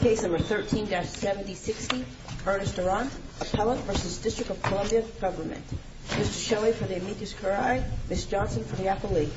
Case number 13-7060, Ernest Durant, Appellant v. District of Columbia Government Mr. Shelley for the Amethyst Caride, Ms. Johnson for the Appellee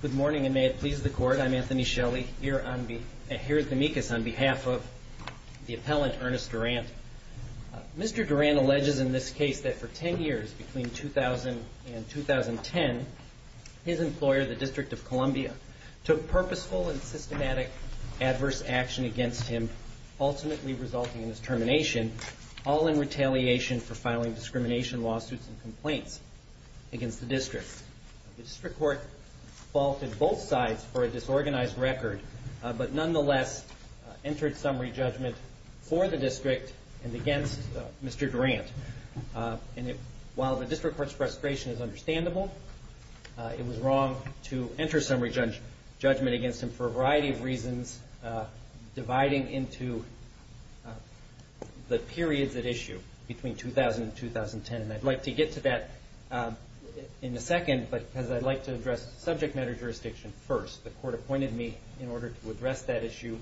Good morning and may it please the Court, I'm Anthony Shelley here at the amicus on the District of Columbia Government. Mr. Durant, I want to begin by saying that over the past several years, between 2000 and 2010, his employer, the District of Columbia, took purposeful and systematic adverse action against him, ultimately resulting in his termination, all in retaliation for filing discrimination lawsuits and complaints against the District. The District Court faulted both sides for a disorganized record, but nonetheless entered summary judgment for the District and against Mr. Durant. While the District Court's frustration is understandable, it was wrong to enter summary judgment against him for a variety of reasons, dividing into the periods at issue between 2000 and 2010. And I'd like to get to that in a second, because I'd like to address subject matter jurisdiction first. The Court appointed me in order to address that issue,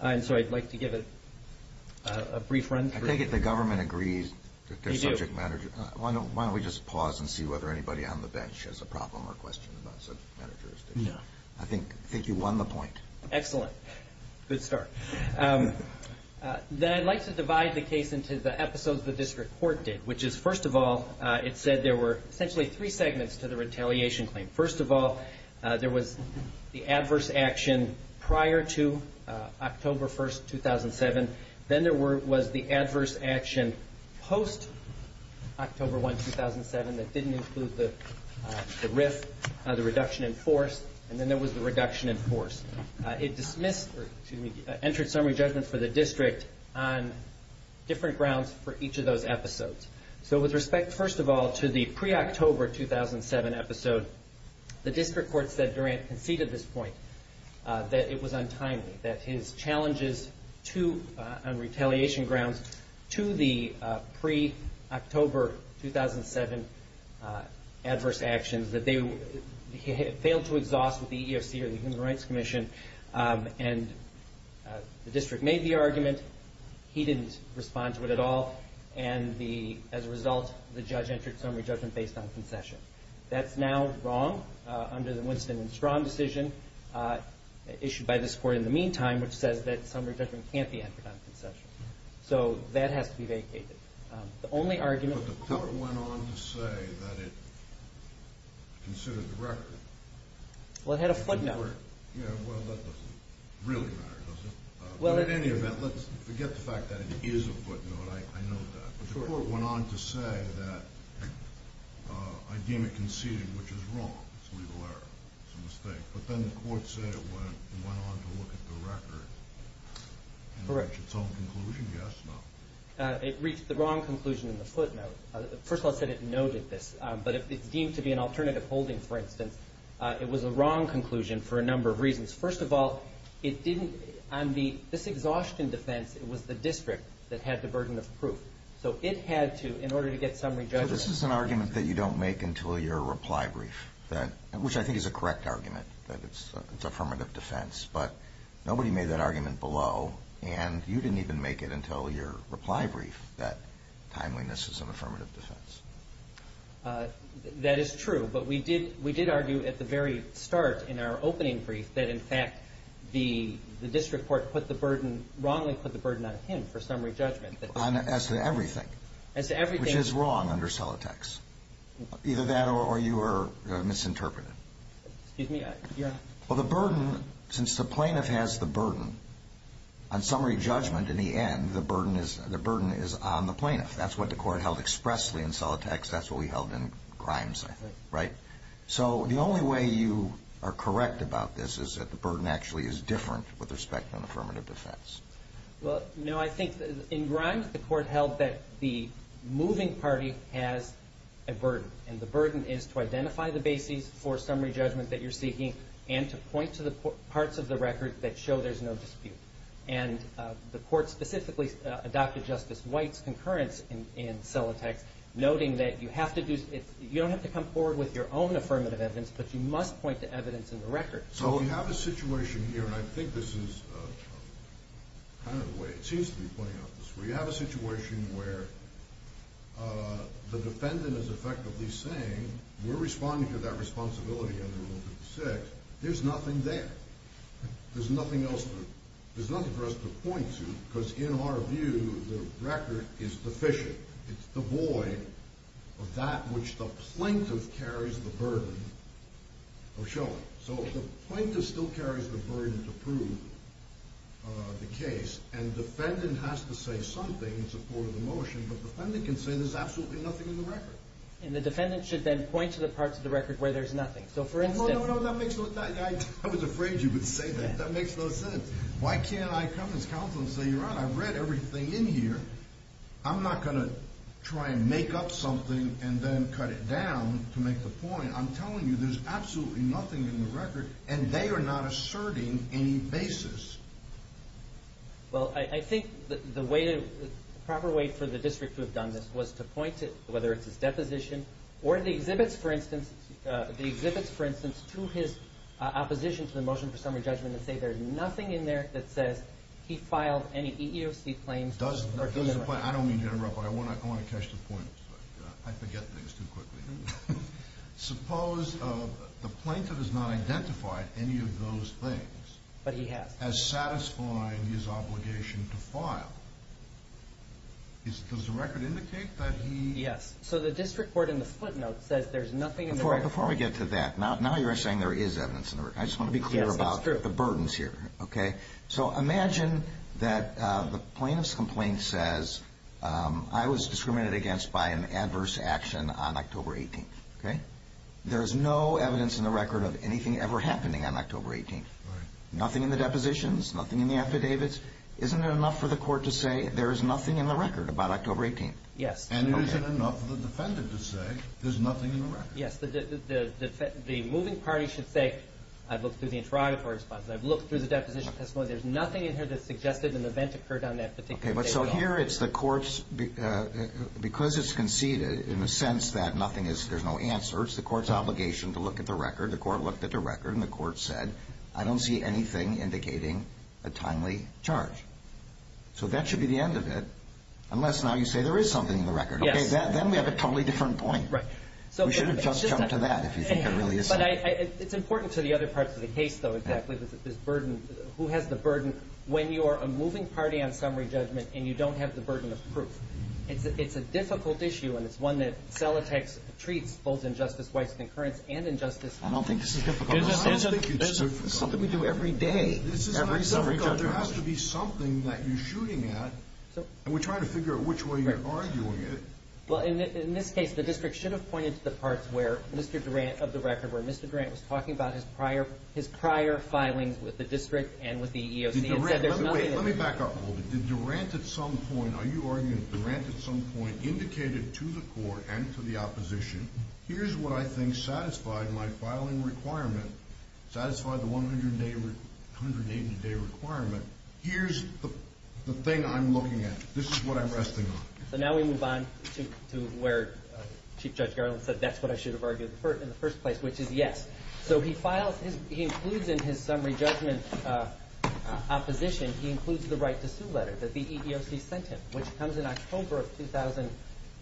and so I'd like to give a brief run through. I take it the Government agrees that there's subject matter jurisdiction. We do. Why don't we just pause and see whether anybody on the bench has a problem or question about subject matter jurisdiction? No. I think you won the point. Excellent. Good start. Then I'd like to divide the case into the episodes the District Court did, which is first of all, it said there were essentially three segments to the retaliation claim. First of all, there was the adverse action prior to October 1, 2007. Then there was the adverse action post-October 1, 2007 that didn't include the RIF, the reduction in force. And then there was the reduction in force. It entered summary judgment for the District on different grounds for each of those episodes. So with respect, first of all, to the pre-October 2007 episode, the District Court said Durant conceded this point, that it was untimely, that his challenges on retaliation grounds to the pre-October 2007 adverse actions that they failed to exhaust with the EEOC or the Human Rights Commission, and the District made the argument. He didn't respond to it at all. And as a result, the judge entered summary judgment based on concession. That's now wrong under the Winston and Strahm decision issued by this Court in the meantime, which says that summary judgment can't be entered on concession. So that has to be vacated. The only argument- But the Court went on to say that it considered the record. Well, it had a footnote. Yeah, well, that doesn't really matter, does it? Well, in any event, let's forget the fact that it is a footnote. I know that. But the Court went on to say that I deem it conceded, which is wrong. It's a legal error. It's a mistake. But then the Court said it went on to look at the record and reach its own conclusion. Yes? No? It reached the wrong conclusion in the footnote. First of all, it said it noted this. But if it's deemed to be an alternative holding, for instance, it was a wrong conclusion for a number of reasons. First of all, on this exhaustion defense, it was the district that had the burden of proof. So it had to, in order to get summary judgment- So this is an argument that you don't make until your reply brief, which I think is a correct argument, that it's affirmative defense. But nobody made that argument below, and you didn't even make it until your reply brief that timeliness is an affirmative defense. That is true. But we did argue at the very start in our opening brief that, in fact, the district court put the burden, wrongly put the burden on him for summary judgment. As to everything. As to everything. Which is wrong under Celotex. Either that or you are misinterpreting. Excuse me? Well, the burden, since the plaintiff has the burden, on summary judgment, in the end, the burden is on the plaintiff. That's what the Court held expressly in Celotex. That's what we held in Grimes, I think. Right? So the only way you are correct about this is that the burden actually is different with respect to an affirmative defense. Well, no, I think in Grimes, the Court held that the moving party has a burden. And the burden is to identify the bases for summary judgment that you're seeking and to point to the parts of the record that show there's no dispute. And the Court specifically adopted Justice White's concurrence in Celotex, noting that you don't have to come forward with your own affirmative evidence, but you must point to evidence in the record. So we have a situation here, and I think this is kind of the way it seems to be playing out. We have a situation where the defendant is effectively saying, we're responding to that responsibility under Rule 56. There's nothing there. There's nothing else for us to point to because, in our view, the record is deficient. It's devoid of that which the plaintiff carries the burden of showing. So the plaintiff still carries the burden to prove the case, and the defendant has to say something in support of the motion, but the defendant can say there's absolutely nothing in the record. And the defendant should then point to the parts of the record where there's nothing. No, no, no, that makes no sense. I was afraid you would say that. That makes no sense. Why can't I come as counsel and say, Your Honor, I've read everything in here. I'm not going to try and make up something and then cut it down to make the point. I'm telling you there's absolutely nothing in the record, and they are not asserting any basis. Well, I think the proper way for the district to have done this was to point to, whether it's his deposition or the exhibits, for instance, the exhibits, for instance, to his opposition to the motion for summary judgment and say there's nothing in there that says he filed any EEOC claims. I don't mean to interrupt, but I want to catch the point. I forget things too quickly. Suppose the plaintiff has not identified any of those things. But he has. As satisfying his obligation to file. Does the record indicate that he? Yes. So the district court in the split note says there's nothing in the record. Before we get to that, now you're saying there is evidence in the record. I just want to be clear about the burdens here. Okay. So imagine that the plaintiff's complaint says I was discriminated against by an adverse action on October 18th. Okay. There is no evidence in the record of anything ever happening on October 18th. Right. Nothing in the depositions, nothing in the affidavits. Isn't it enough for the court to say there is nothing in the record about October 18th? Yes. And isn't it enough for the defendant to say there's nothing in the record? Yes. The moving party should say I've looked through the interrogatory response. I've looked through the deposition testimony. There's nothing in here that suggested an event occurred on that particular day at all. Okay. But so here it's the court's, because it's conceded in a sense that nothing is, there's no answer, it's the court's obligation to look at the record. The court looked at the record, and the court said I don't see anything indicating a timely charge. So that should be the end of it, unless now you say there is something in the record. Yes. Okay. Then we have a totally different point. Right. We should have just jumped to that if you think it really is. But it's important to the other parts of the case, though, exactly, this burden, who has the burden when you are a moving party on summary judgment and you don't have the burden of proof. It's a difficult issue, and it's one that Celotex treats, both in Justice Weiss' concurrence and in Justice Hunt. I don't think this is difficult. I don't think it's difficult. This is something we do every day, every summary judgment. There has to be something that you're shooting at, and we're trying to figure out which way you're arguing it. Well, in this case, the district should have pointed to the parts where Mr. Durant, of the record, where Mr. Durant was talking about his prior filings with the district and with the EEOC. Wait, let me back up a little bit. Did Durant at some point, are you arguing that Durant at some point indicated to the court and to the opposition, here's what I think satisfied my filing requirement, satisfied the 180-day requirement. Here's the thing I'm looking at. This is what I'm resting on. So now we move on to where Chief Judge Garland said, that's what I should have argued in the first place, which is yes. So he files, he includes in his summary judgment opposition, he includes the right to sue letter that the EEOC sent him, which comes in October of 2000,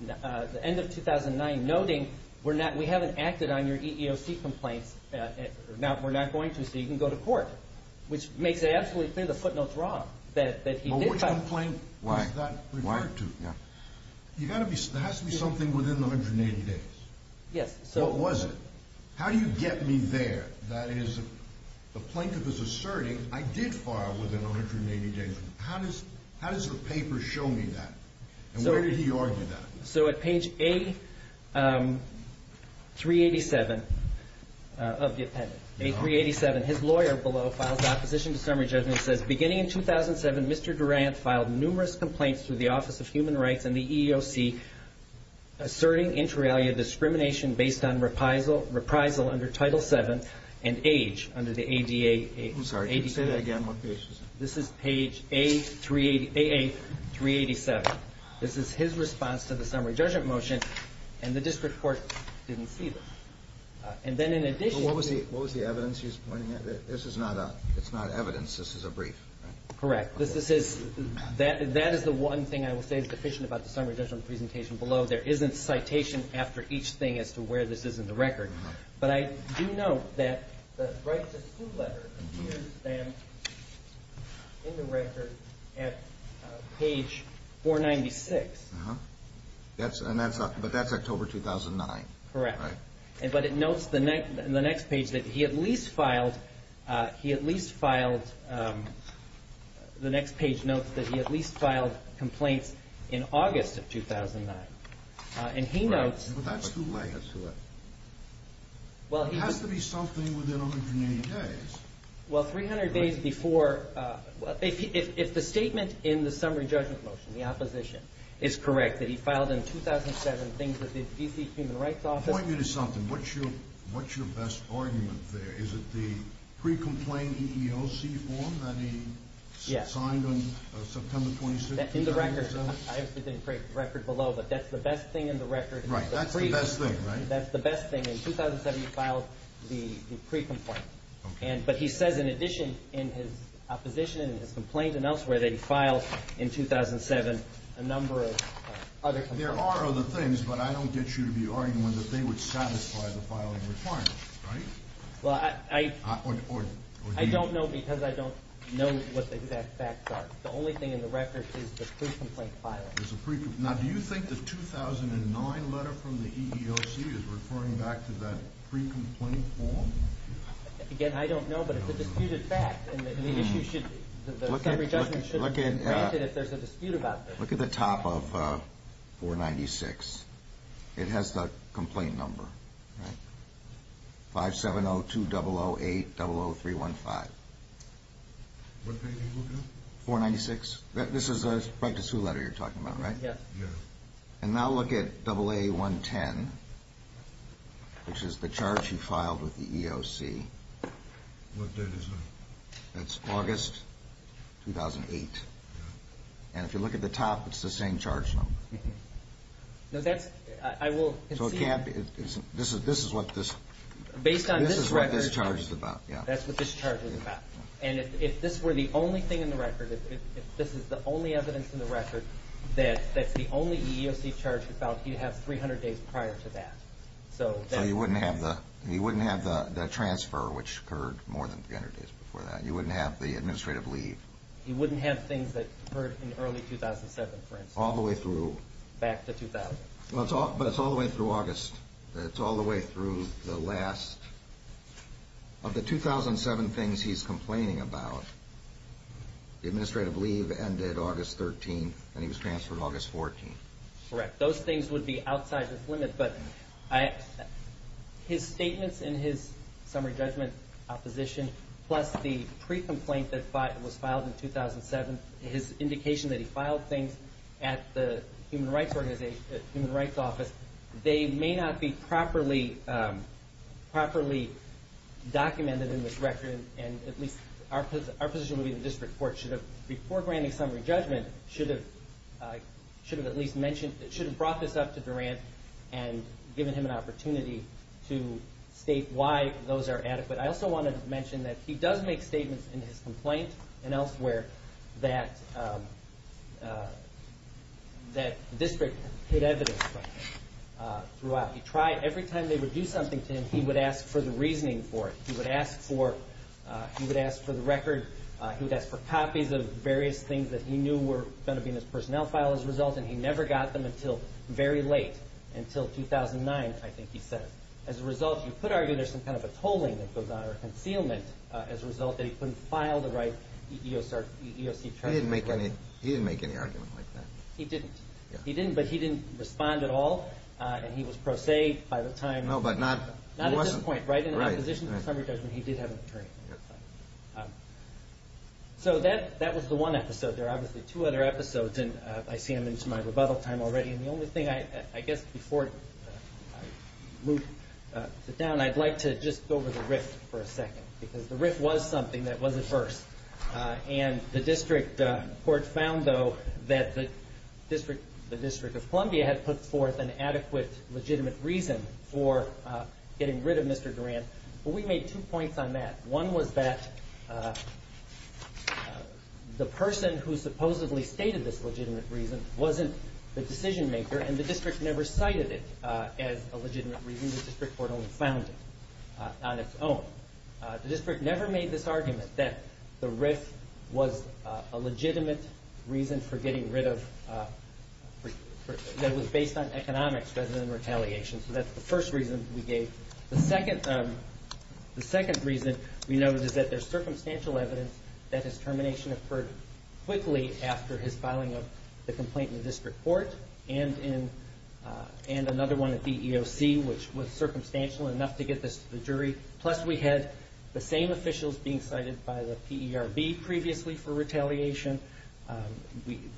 the end of 2009, noting we haven't acted on your EEOC complaints. Now, we're not going to, so you can go to court, which makes it absolutely clear the footnote's wrong, that he did file. Well, which complaint was that referred to? There has to be something within the 180 days. Yes. What was it? How do you get me there? That is, the plaintiff is asserting, I did file within 180 days. How does the paper show me that, and where did he argue that? So at page A387 of the appendix, A387, his lawyer below files opposition to summary judgment and says, beginning in 2007, Mr. Durant filed numerous complaints through the Office of Human Rights and the EEOC discrimination based on reprisal under Title VII and age under the ADA. I'm sorry, say that again. This is page A387. This is his response to the summary judgment motion, and the district court didn't see this. And then in addition. What was the evidence he's pointing at? This is not evidence. This is a brief. Correct. This is, that is the one thing I will say is deficient about the summary judgment presentation below. There isn't citation after each thing as to where this is in the record. But I do know that the right to sue letter appears then in the record at page 496. But that's October 2009. Correct. But it notes in the next page that he at least filed complaints in August of 2009. And he notes. That's too late. It has to be something within 180 days. Well, 300 days before, if the statement in the summary judgment motion, the opposition, is correct, that he filed in 2007 things at the D.C. Human Rights Office. Point me to something. What's your best argument there? Is it the pre-complaint EEOC form that he signed on September 26th? In the record. I obviously didn't break the record below, but that's the best thing in the record. Right. That's the best thing, right? That's the best thing. In 2007, he filed the pre-complaint. But he says, in addition, in his opposition and his complaints and elsewhere, that he filed in 2007 a number of other complaints. There are other things, but I don't get you to be arguing that they would satisfy the filing requirements, right? Well, I don't know because I don't know what the exact facts are. The only thing in the record is the pre-complaint filing. Now, do you think the 2009 letter from the EEOC is referring back to that pre-complaint form? Again, I don't know, but it's a disputed fact, and the issue should be granted if there's a dispute about this. Look at the top of 496. It has the complaint number, right? 570-2008-00315. What page are you looking at? 496. This is a practice who letter you're talking about, right? Yes. And now look at AA110, which is the charge he filed with the EEOC. What date is that? That's August 2008. And if you look at the top, it's the same charge number. No, that's – I will concede – So it can't – this is what this – Based on this record – This is what this charge is about, yeah. That's what this charge is about. And if this were the only thing in the record, if this is the only evidence in the record, that that's the only EEOC charge he filed, he'd have 300 days prior to that. So you wouldn't have the transfer, which occurred more than 300 days before that. You wouldn't have the administrative leave. He wouldn't have things that occurred in early 2007, for instance. All the way through. Back to 2000. But it's all the way through August. It's all the way through the last. Of the 2007 things he's complaining about, the administrative leave ended August 13th, and he was transferred August 14th. Correct. Those things would be outside this limit. But his statements in his summary judgment opposition, plus the pre-complaint that was filed in 2007, his indication that he filed things at the Human Rights Office, they may not be properly documented in this record, and at least our position would be that the district court should have, before granting summary judgment, should have at least brought this up to Durant and given him an opportunity to state why those are adequate. I also wanted to mention that he does make statements in his complaint and elsewhere that the district hid evidence from him throughout. He tried. Every time they would do something to him, he would ask for the reasoning for it. He would ask for the record. He would ask for copies of various things that he knew were going to be in his personnel file as a result, and he never got them until very late, until 2009, I think he said. As a result, you could argue there's some kind of a tolling that goes on or a concealment as a result that he couldn't file the right EEOC charges. He didn't make any argument like that. He didn't. He didn't, but he didn't respond at all, and he was pro se by the time. No, but not at this point. Not at this point. Right. In opposition to summary judgment, he did have an attorney. So that was the one episode. There are obviously two other episodes, and I see I'm into my rebuttal time already, and the only thing I guess before I sit down, I'd like to just go over the RIFT for a second, because the RIFT was something that was at first, and the district court found, though, that the District of Columbia had put forth an adequate legitimate reason for getting rid of Mr. Durand, but we made two points on that. One was that the person who supposedly stated this legitimate reason wasn't the decision maker, and the district never cited it as a legitimate reason. The district court only found it on its own. The district never made this argument that the RIFT was a legitimate reason for getting rid of, that it was based on economics rather than retaliation. So that's the first reason we gave. The second reason we noted is that there's circumstantial evidence that his termination occurred quickly after his filing of the complaint in the district court and another one at the EEOC, which was circumstantial enough to get this to the jury. Plus, we had the same officials being cited by the PERB previously for retaliation.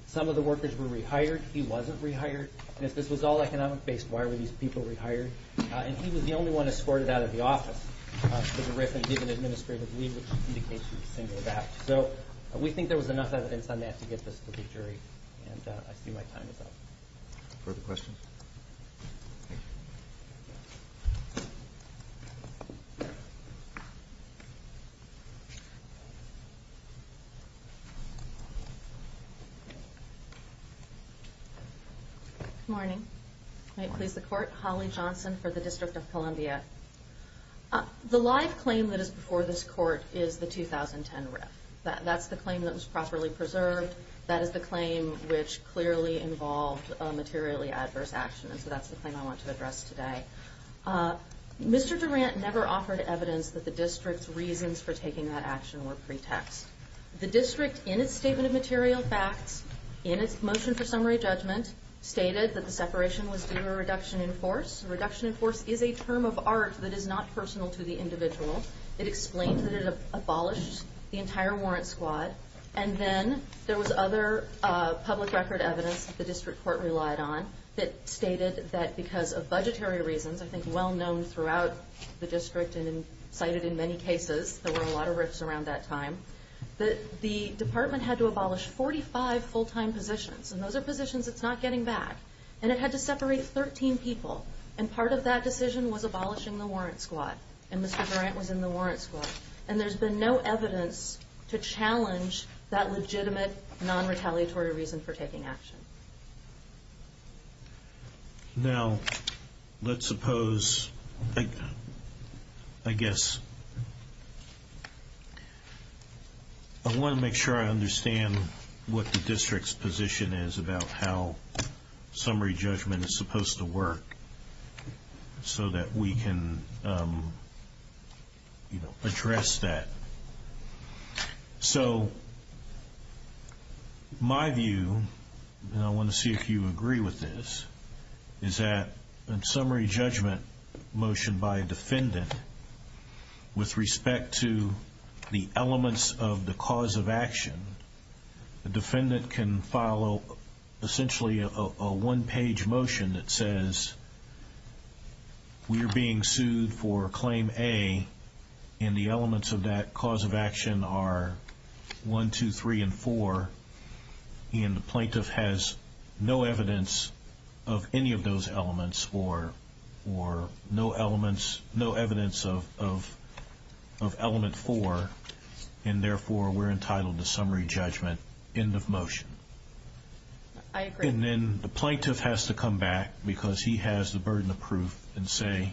Some of the workers were rehired. He wasn't rehired. And if this was all economic-based, why were these people rehired? And he was the only one escorted out of the office for the RIFT and given administrative leave, which indicates he was single-backed. So we think there was enough evidence on that to get this to the jury, and I see my time is up. Further questions? Good morning. May it please the court. Holly Johnson for the District of Columbia. The live claim that is before this court is the 2010 RIFT. That's the claim that was properly preserved. That is the claim which clearly involved a materially adverse action, and so that's the claim I want to address today. Mr. Durant never offered evidence that the district's reasons for taking that action were pretext. The district, in its statement of material facts, in its motion for summary judgment, stated that the separation was due to a reduction in force. A reduction in force is a term of art that is not personal to the individual. It explains that it abolished the entire warrant squad. And then there was other public record evidence that the district court relied on that stated that because of budgetary reasons, I think well-known throughout the district and cited in many cases, there were a lot of RIFTs around that time, that the department had to abolish 45 full-time positions. And those are positions it's not getting back. And it had to separate 13 people. And part of that decision was abolishing the warrant squad. And Mr. Durant was in the warrant squad. And there's been no evidence to challenge that legitimate, non-retaliatory reason for taking action. Now, let's suppose, I guess, I want to make sure I understand what the district's position is about how summary judgment is supposed to work so that we can address that. So my view, and I want to see if you agree with this, is that in summary judgment motion by a defendant, with respect to the elements of the cause of action, the defendant can follow essentially a one-page motion that says, we are being sued for Claim A. And the elements of that cause of action are 1, 2, 3, and 4. And the plaintiff has no evidence of any of those elements or no evidence of Element 4. And therefore, we're entitled to summary judgment. End of motion. I agree. And then the plaintiff has to come back because he has the burden of proof and say,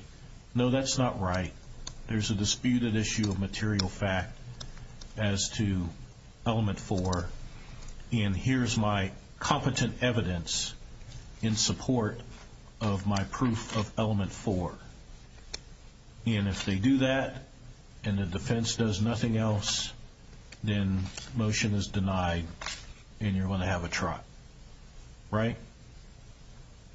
no, that's not right. There's a disputed issue of material fact as to Element 4. And here's my competent evidence in support of my proof of Element 4. And if they do that and the defense does nothing else, then motion is denied and you're going to have a trot. Right?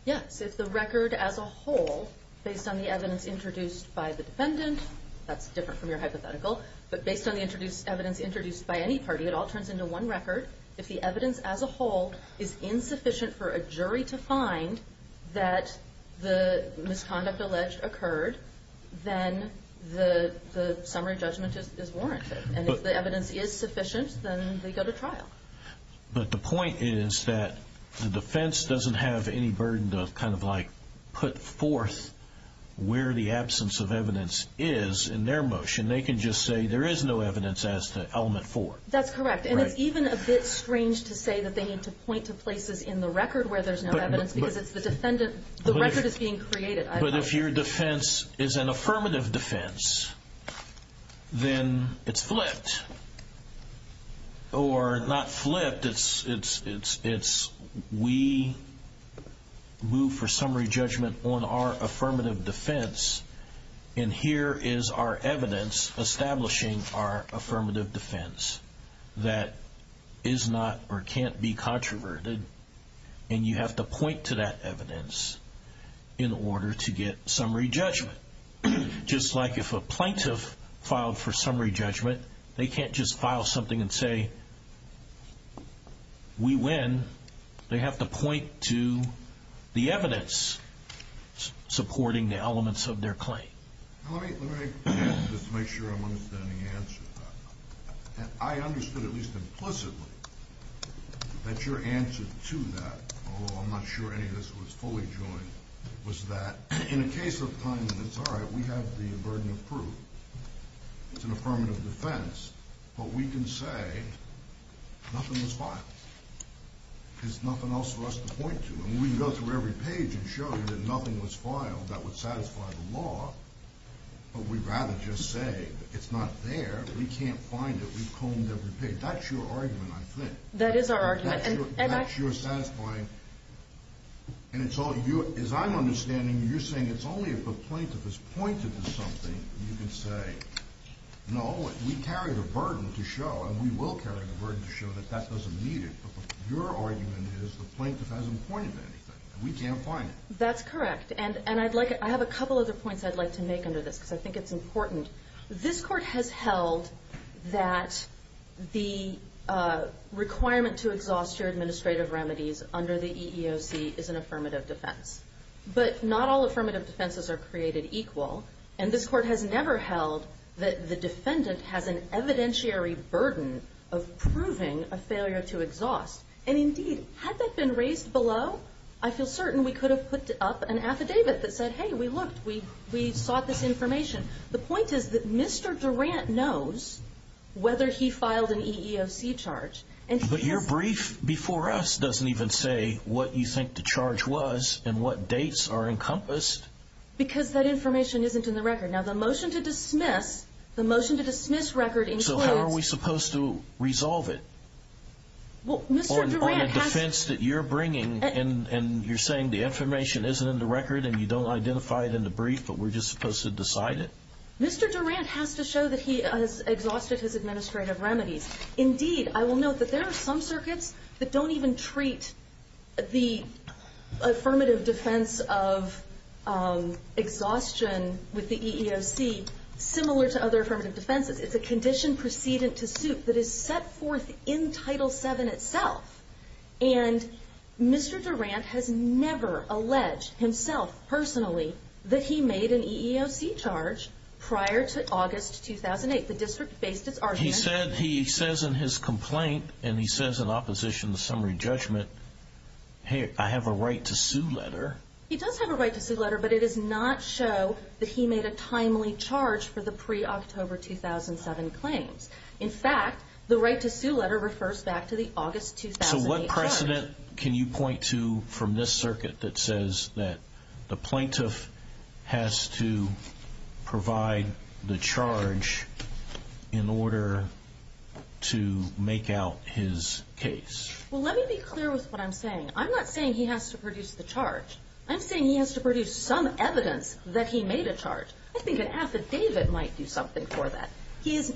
Yes. If the record as a whole, based on the evidence introduced by the defendant, that's different from your hypothetical, but based on the evidence introduced by any party, it all turns into one record. If the evidence as a whole is insufficient for a jury to find that the misconduct alleged occurred, then the summary judgment is warranted. And if the evidence is sufficient, then they go to trial. But the point is that the defense doesn't have any burden to kind of, like, put forth where the absence of evidence is in their motion. They can just say there is no evidence as to Element 4. That's correct. And it's even a bit strange to say that they need to point to places in the record where there's no evidence because the record is being created. But if your defense is an affirmative defense, then it's flipped. Or not flipped, it's we move for summary judgment on our affirmative defense, and here is our evidence establishing our affirmative defense that is not or can't be controverted, and you have to point to that evidence in order to get summary judgment. Just like if a plaintiff filed for summary judgment, they can't just file something and say, we win, they have to point to the evidence supporting the elements of their claim. Let me just make sure I'm understanding the answer to that. I understood, at least implicitly, that your answer to that, although I'm not sure any of this was fully joined, was that in a case of time when it's all right, we have the burden of proof, it's an affirmative defense, but we can say nothing was filed because nothing else for us to point to. And we can go through every page and show you that nothing was filed that would satisfy the law, but we'd rather just say it's not there, we can't find it, we've combed every page. That's your argument, I think. That is our argument. That's your satisfying, and it's all you, as I'm understanding, you're saying it's only if the plaintiff has pointed to something that you can say, no, we carry the burden to show, and we will carry the burden to show that that doesn't meet it. But your argument is the plaintiff hasn't pointed to anything, and we can't find it. That's correct. And I have a couple other points I'd like to make under this, because I think it's important. This Court has held that the requirement to exhaust your administrative remedies under the EEOC is an affirmative defense. But not all affirmative defenses are created equal, and this Court has never held that the defendant has an evidentiary burden of proving a failure to exhaust. And indeed, had that been raised below, I feel certain we could have put up an affidavit that said, hey, we looked, we sought this information. The point is that Mr. Durant knows whether he filed an EEOC charge. But your brief before us doesn't even say what you think the charge was and what dates are encompassed. Because that information isn't in the record. Now, the motion to dismiss, the motion to dismiss record includes – So how are we supposed to resolve it? Well, Mr. Durant has – On the defense that you're bringing, and you're saying the information isn't in the record and you don't identify it in the brief, but we're just supposed to decide it? Mr. Durant has to show that he has exhausted his administrative remedies. Indeed, I will note that there are some circuits that don't even treat the affirmative defense of exhaustion with the EEOC similar to other affirmative defenses. It's a condition precedent to suit that is set forth in Title VII itself. And Mr. Durant has never alleged himself, personally, that he made an EEOC charge prior to August 2008. The district based its argument He says in his complaint, and he says in opposition to summary judgment, hey, I have a right to sue letter. He does have a right to sue letter, but it does not show that he made a timely charge for the pre-October 2007 claims. In fact, the right to sue letter refers back to the August 2008 charge. to make out his case. Well, let me be clear with what I'm saying. I'm not saying he has to produce the charge. I'm saying he has to produce some evidence that he made a charge. I think an affidavit might do something for that. The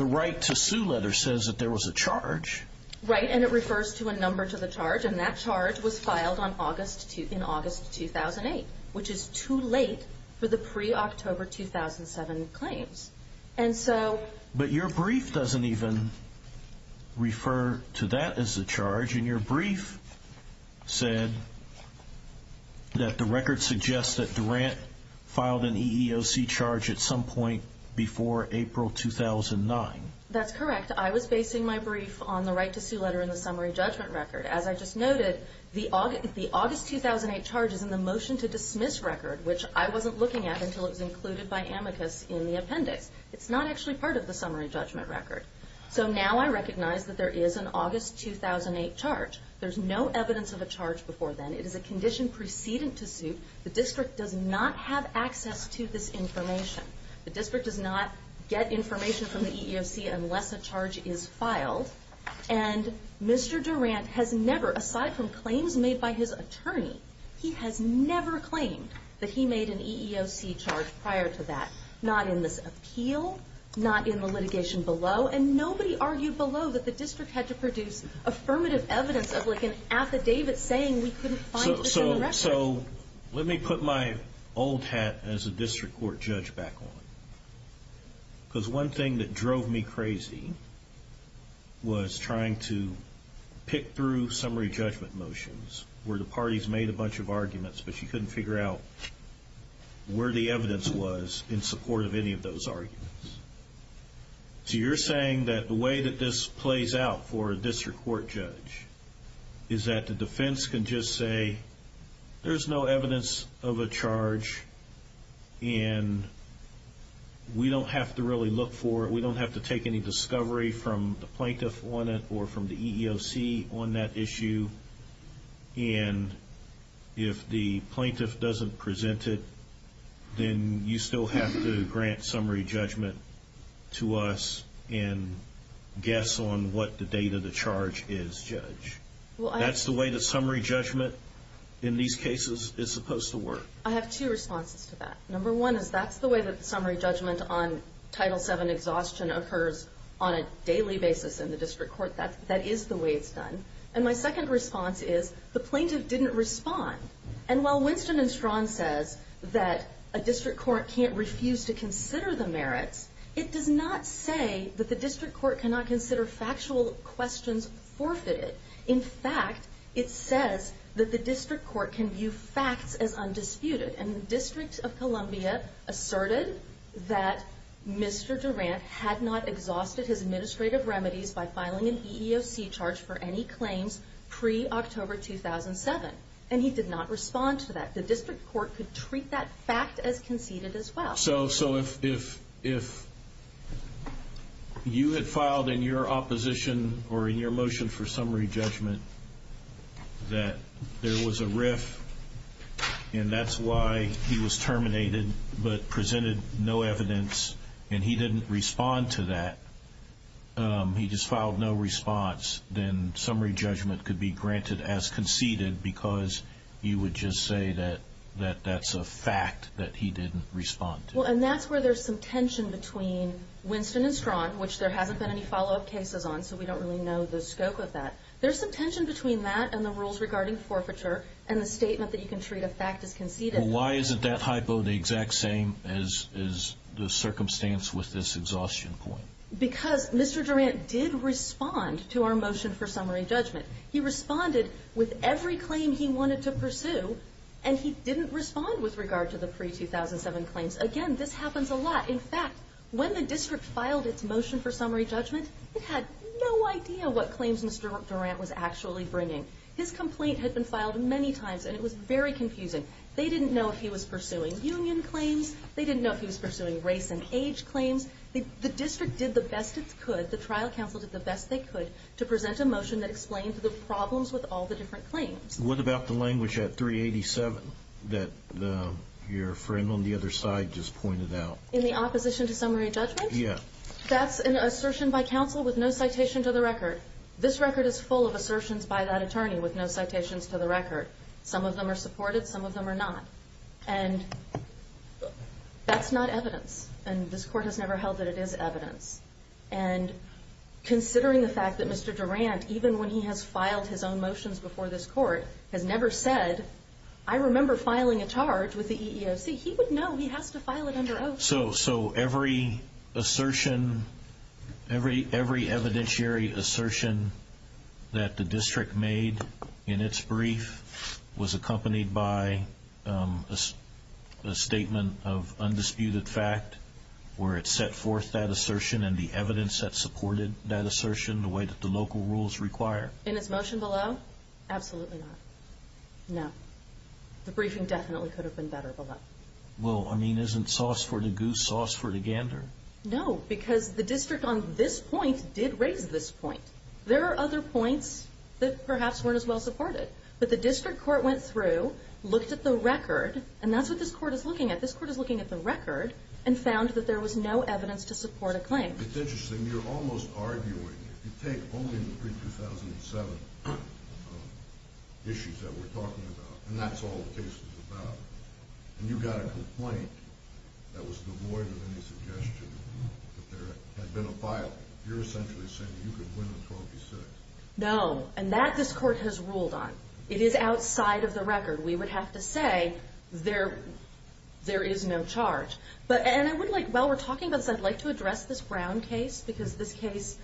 right to sue letter says that there was a charge. Right, and it refers to a number to the charge, and that charge was filed in August 2008, which is too late for the pre-October 2007 claims. But your brief doesn't even refer to that as a charge, and your brief said that the record suggests that Durant filed an EEOC charge at some point before April 2009. That's correct. I was basing my brief on the right to sue letter in the summary judgment record. As I just noted, the August 2008 charge is in the motion to dismiss record, which I wasn't looking at until it was included by amicus in the appendix. It's not actually part of the summary judgment record. So now I recognize that there is an August 2008 charge. There's no evidence of a charge before then. It is a condition precedent to suit. The district does not have access to this information. The district does not get information from the EEOC unless a charge is filed, He has never claimed that he made an EEOC charge prior to that, not in this appeal, not in the litigation below, and nobody argued below that the district had to produce affirmative evidence of like an affidavit saying we couldn't find this in the record. So let me put my old hat as a district court judge back on, because one thing that drove me crazy was trying to pick through summary judgment motions where the parties made a bunch of arguments, but you couldn't figure out where the evidence was in support of any of those arguments. So you're saying that the way that this plays out for a district court judge is that the defense can just say there's no evidence of a charge and we don't have to really look for it, we don't have to take any discovery from the plaintiff on it or from the EEOC on that issue, and if the plaintiff doesn't present it, then you still have to grant summary judgment to us and guess on what the date of the charge is, Judge. That's the way that summary judgment in these cases is supposed to work. I have two responses to that. Number one is that's the way that summary judgment on Title VII exhaustion occurs on a daily basis in the district court. That is the way it's done. And my second response is the plaintiff didn't respond. And while Winston and Strawn says that a district court can't refuse to consider the merits, it does not say that the district court cannot consider factual questions forfeited. In fact, it says that the district court can view facts as undisputed, and the District of Columbia asserted that Mr. Durant had not exhausted his administrative remedies by filing an EEOC charge for any claims pre-October 2007, and he did not respond to that. The district court could treat that fact as conceded as well. So if you had filed in your opposition or in your motion for summary judgment that there was a riff and that's why he was terminated but presented no evidence and he didn't respond to that, he just filed no response, then summary judgment could be granted as conceded because you would just say that that's a fact that he didn't respond to. Well, and that's where there's some tension between Winston and Strawn, which there hasn't been any follow-up cases on, so we don't really know the scope of that. There's some tension between that and the rules regarding forfeiture and the statement that you can treat a fact as conceded. Why isn't that hypo the exact same as the circumstance with this exhaustion point? Because Mr. Durant did respond to our motion for summary judgment. He responded with every claim he wanted to pursue, and he didn't respond with regard to the pre-2007 claims. Again, this happens a lot. In fact, when the district filed its motion for summary judgment, it had no idea what claims Mr. Durant was actually bringing. His complaint had been filed many times, and it was very confusing. They didn't know if he was pursuing union claims, they didn't know if he was pursuing race and age claims. The district did the best it could, the trial counsel did the best they could, to present a motion that explained the problems with all the different claims. What about the language at 387 that your friend on the other side just pointed out? In the opposition to summary judgment? Yeah. That's an assertion by counsel with no citation to the record. This record is full of assertions by that attorney with no citations to the record. Some of them are supported, some of them are not. And that's not evidence, and this court has never held that it is evidence. And considering the fact that Mr. Durant, even when he has filed his own motions before this court, has never said, I remember filing a charge with the EEOC, he would know he has to file it under oath. So every assertion, every evidentiary assertion that the district made in its brief was accompanied by a statement of undisputed fact where it set forth that assertion and the evidence that supported that assertion the way that the local rules require. In its motion below? Absolutely not. No. The briefing definitely could have been better below. Well, I mean, isn't sauce for the goose, sauce for the gander? No, because the district on this point did raise this point. There are other points that perhaps weren't as well supported. But the district court went through, looked at the record, and that's what this court is looking at. This court is looking at the record and found that there was no evidence to support a claim. It's interesting. You're almost arguing, if you take only the pre-2007 issues that we're talking about, and that's all the case is about, and you got a complaint that was devoid of any suggestion that there had been a filing, you're essentially saying you could win a Trophy 6. No, and that this court has ruled on. It is outside of the record. We would have to say there is no charge. And I would like, while we're talking about this, I'd like to address this Brown case because this case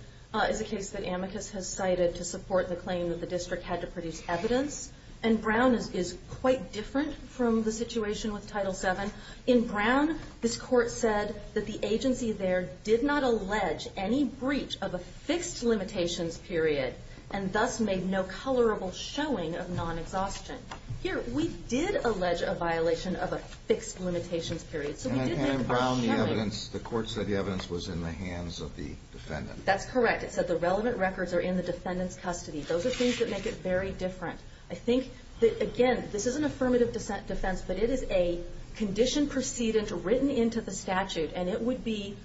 is a case that amicus has cited to support the claim that the district had to produce evidence. And Brown is quite different from the situation with Title VII. In Brown, this court said that the agency there did not allege any breach of a fixed limitations period and thus made no colorable showing of non-exhaustion. Here, we did allege a violation of a fixed limitations period. And in Brown, the evidence, the court said the evidence was in the hands of the defendant. That's correct. It said the relevant records are in the defendant's custody. Those are things that make it very different. I think that, again, this is an affirmative defense, but it is a condition precedent written into the statute, and it would be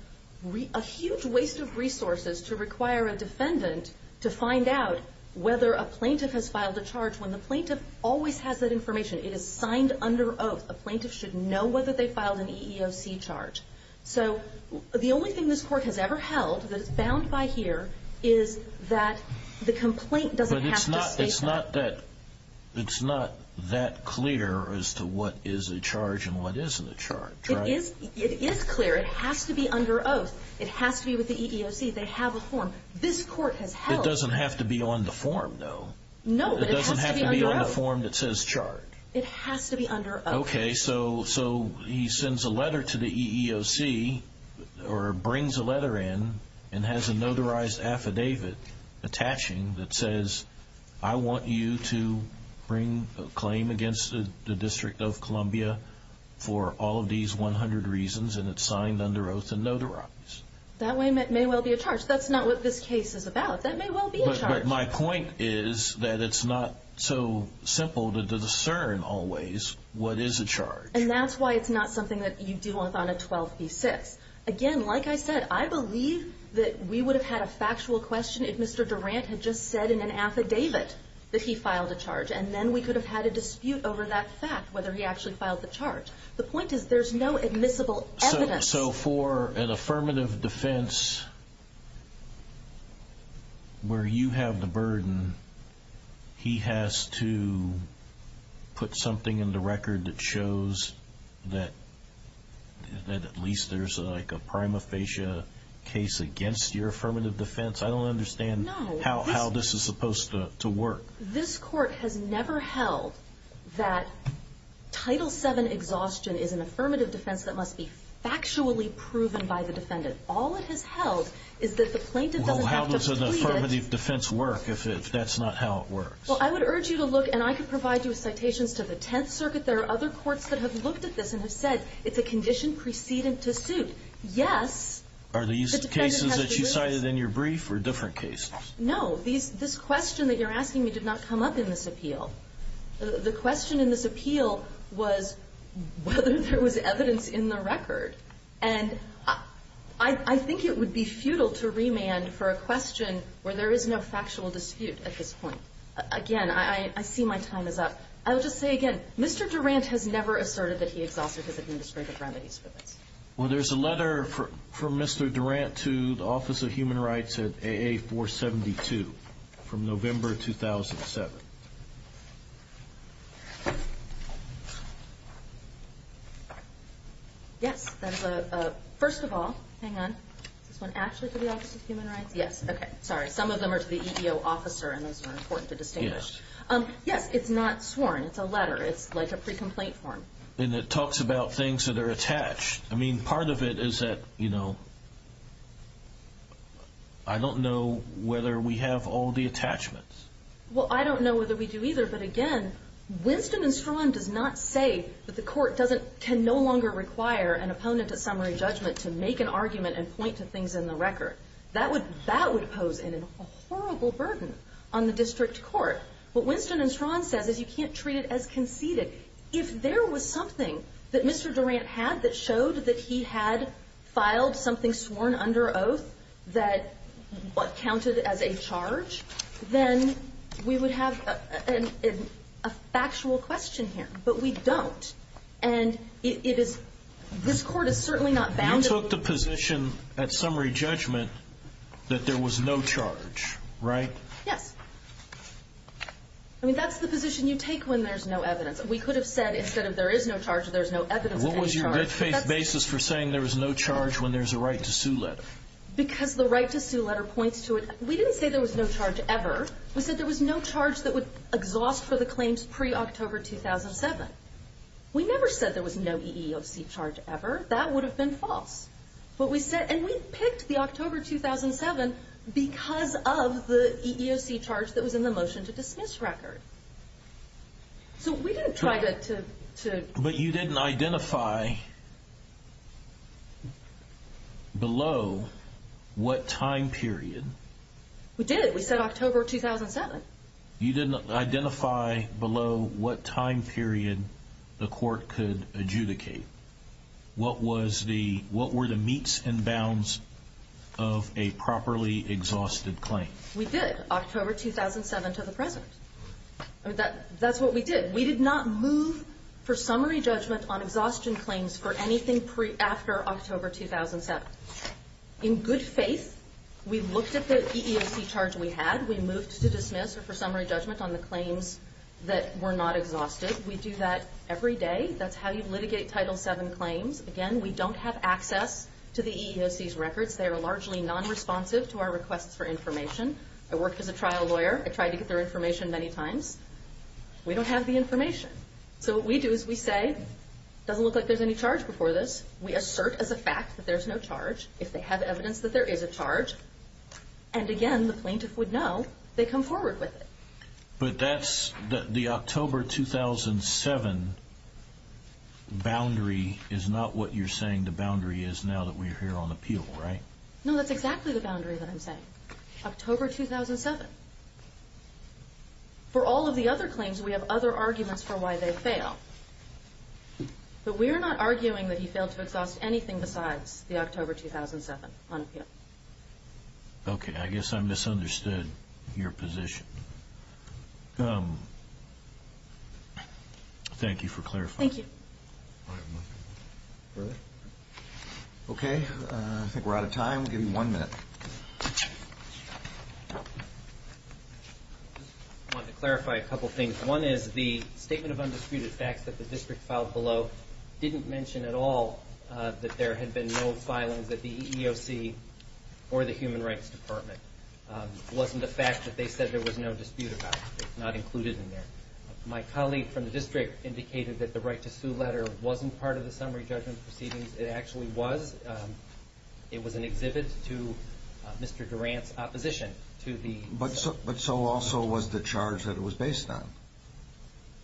a huge waste of resources to require a defendant to find out whether a plaintiff has filed a charge when the plaintiff always has that information. It is signed under oath. A plaintiff should know whether they filed an EEOC charge. So the only thing this court has ever held that is bound by here is that the complaint doesn't have to state that. But it's not that clear as to what is a charge and what isn't a charge, right? It is clear. It has to be under oath. It has to be with the EEOC. They have a form. This court has held. It doesn't have to be on the form, though. No, but it has to be under oath. It doesn't have to be on the form that says charge. It has to be under oath. Okay, so he sends a letter to the EEOC or brings a letter in and has a notarized affidavit attaching that says, I want you to bring a claim against the District of Columbia for all of these 100 reasons, and it's signed under oath and notarized. That may well be a charge. That's not what this case is about. That may well be a charge. But my point is that it's not so simple to discern always what is a charge. And that's why it's not something that you do on a 12b-6. Again, like I said, I believe that we would have had a factual question if Mr. Durant had just said in an affidavit that he filed a charge, and then we could have had a dispute over that fact, whether he actually filed the charge. The point is there's no admissible evidence. So for an affirmative defense where you have the burden, he has to put something in the record that shows that at least there's a prima facie case against your affirmative defense. I don't understand how this is supposed to work. This Court has never held that Title VII exhaustion is an affirmative defense that must be factually proven by the defendant. All it has held is that the plaintiff doesn't have to plead it. I don't understand how this is supposed to work if that's not how it works. Well, I would urge you to look, and I could provide you with citations to the Tenth Circuit. There are other courts that have looked at this and have said it's a condition precedent to suit. Yes, the defendant has the right. Are these cases that you cited in your brief or different cases? No. This question that you're asking me did not come up in this appeal. The question in this appeal was whether there was evidence in the record. And I think it would be futile to remand for a question where there is no factual dispute at this point. Again, I see my time is up. I will just say again, Mr. Durant has never asserted that he exhausted his administrative remedies. Well, there's a letter from Mr. Durant to the Office of Human Rights at AA-472 from November 2007. Yes. First of all, hang on. Is this one actually to the Office of Human Rights? Yes. Okay. Sorry. Some of them are to the EDO officer, and those are important to distinguish. Yes. Yes, it's not sworn. It's a letter. It's like a pre-complaint form. And it talks about things that are attached. I mean, part of it is that, you know, I don't know whether we have all the attachments. Well, I don't know whether we do either. But again, Winston and Strachan does not say that the Court can no longer require an opponent at summary judgment to make an argument and point to things in the record. That would pose a horrible burden on the district court. What Winston and Strachan says is you can't treat it as conceded. If there was something that Mr. Durant had that showed that he had filed something sworn under oath that counted as a charge, then we would have a factual question here. But we don't. And it is this Court is certainly not bound. You took the position at summary judgment that there was no charge, right? Yes. I mean, that's the position you take when there's no evidence. We could have said instead of there is no charge, there's no evidence of any charge. What was your red-faced basis for saying there was no charge when there's a right to sue letter? Because the right to sue letter points to it. We didn't say there was no charge ever. We said there was no charge that would exhaust for the claims pre-October 2007. We never said there was no EEOC charge ever. That would have been false. And we picked the October 2007 because of the EEOC charge that was in the motion to dismiss record. So we didn't try to... But you didn't identify below what time period. We did. We said October 2007. You didn't identify below what time period the Court could adjudicate. What were the meets and bounds of a properly exhausted claim? We did. October 2007 to the present. That's what we did. We did not move for summary judgment on exhaustion claims for anything after October 2007. In good faith, we looked at the EEOC charge we had. We moved to dismiss or for summary judgment on the claims that were not exhausted. We do that every day. That's how you litigate Title VII claims. Again, we don't have access to the EEOC's records. They are largely non-responsive to our requests for information. I worked as a trial lawyer. I tried to get their information many times. We don't have the information. So what we do is we say, doesn't look like there's any charge before this. We assert as a fact that there's no charge. If they have evidence that there is a charge. And again, the plaintiff would know. They come forward with it. But that's the October 2007 boundary is not what you're saying the boundary is now that we're here on appeal, right? No, that's exactly the boundary that I'm saying. October 2007. For all of the other claims, we have other arguments for why they fail. But we are not arguing that he failed to exhaust anything besides the October 2007 on appeal. Okay. I guess I misunderstood your position. Thank you for clarifying. Thank you. Okay. I think we're out of time. Give me one minute. I want to clarify a couple of things. One is the statement of undisputed facts that the district filed below didn't mention at all that there had been no filings at the EEOC or the Human Rights Department. It wasn't the fact that they said there was no dispute about it. It's not included in there. My colleague from the district indicated that the right to sue letter wasn't part of the summary judgment proceedings. It actually was. It was an exhibit to Mr. Durant's opposition to the. But so also was the charge that it was based on.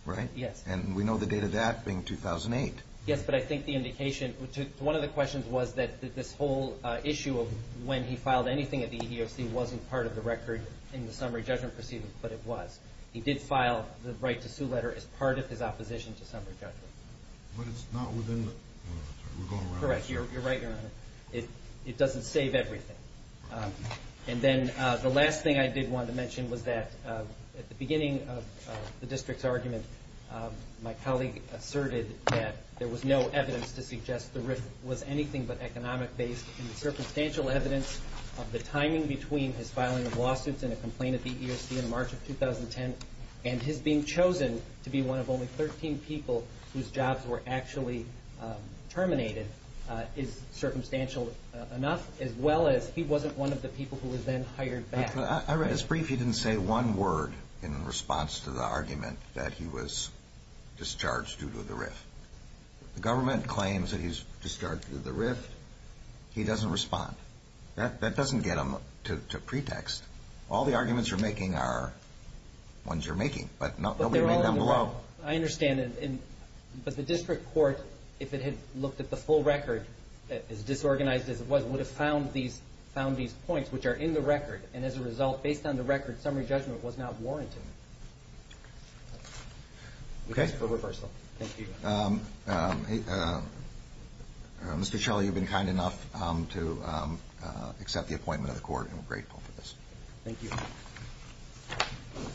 Right? Yes. And we know the date of that being 2008. Yes, but I think the indication. One of the questions was that this whole issue of when he filed anything at the EEOC wasn't part of the record in the summary judgment proceedings, but it was. He did file the right to sue letter as part of his opposition to summary judgment. But it's not within the. Correct. You're right. It doesn't save everything. And then the last thing I did want to mention was that at the beginning of the district's argument, my colleague asserted that there was no evidence to suggest the risk was anything but economic based. And the circumstantial evidence of the timing between his filing of lawsuits and a complaint at the EEOC in March of 2010 and his being chosen to be one of only 13 people whose jobs were actually terminated is circumstantial enough. As well as he wasn't one of the people who was then hired back. I read his brief. He didn't say one word in response to the argument that he was discharged due to the rift. The government claims that he's discharged due to the rift. He doesn't respond. That doesn't get him to pretext. All the arguments you're making are ones you're making, but nobody made them below. I understand. But the district court, if it had looked at the full record, as disorganized as it was, would have found these found these points which are in the record. And as a result, based on the record, summary judgment was not warranted. OK. For reversal. Thank you. Mr. Shelley, you've been kind enough to accept the appointment of the court. We're grateful for this. Thank you.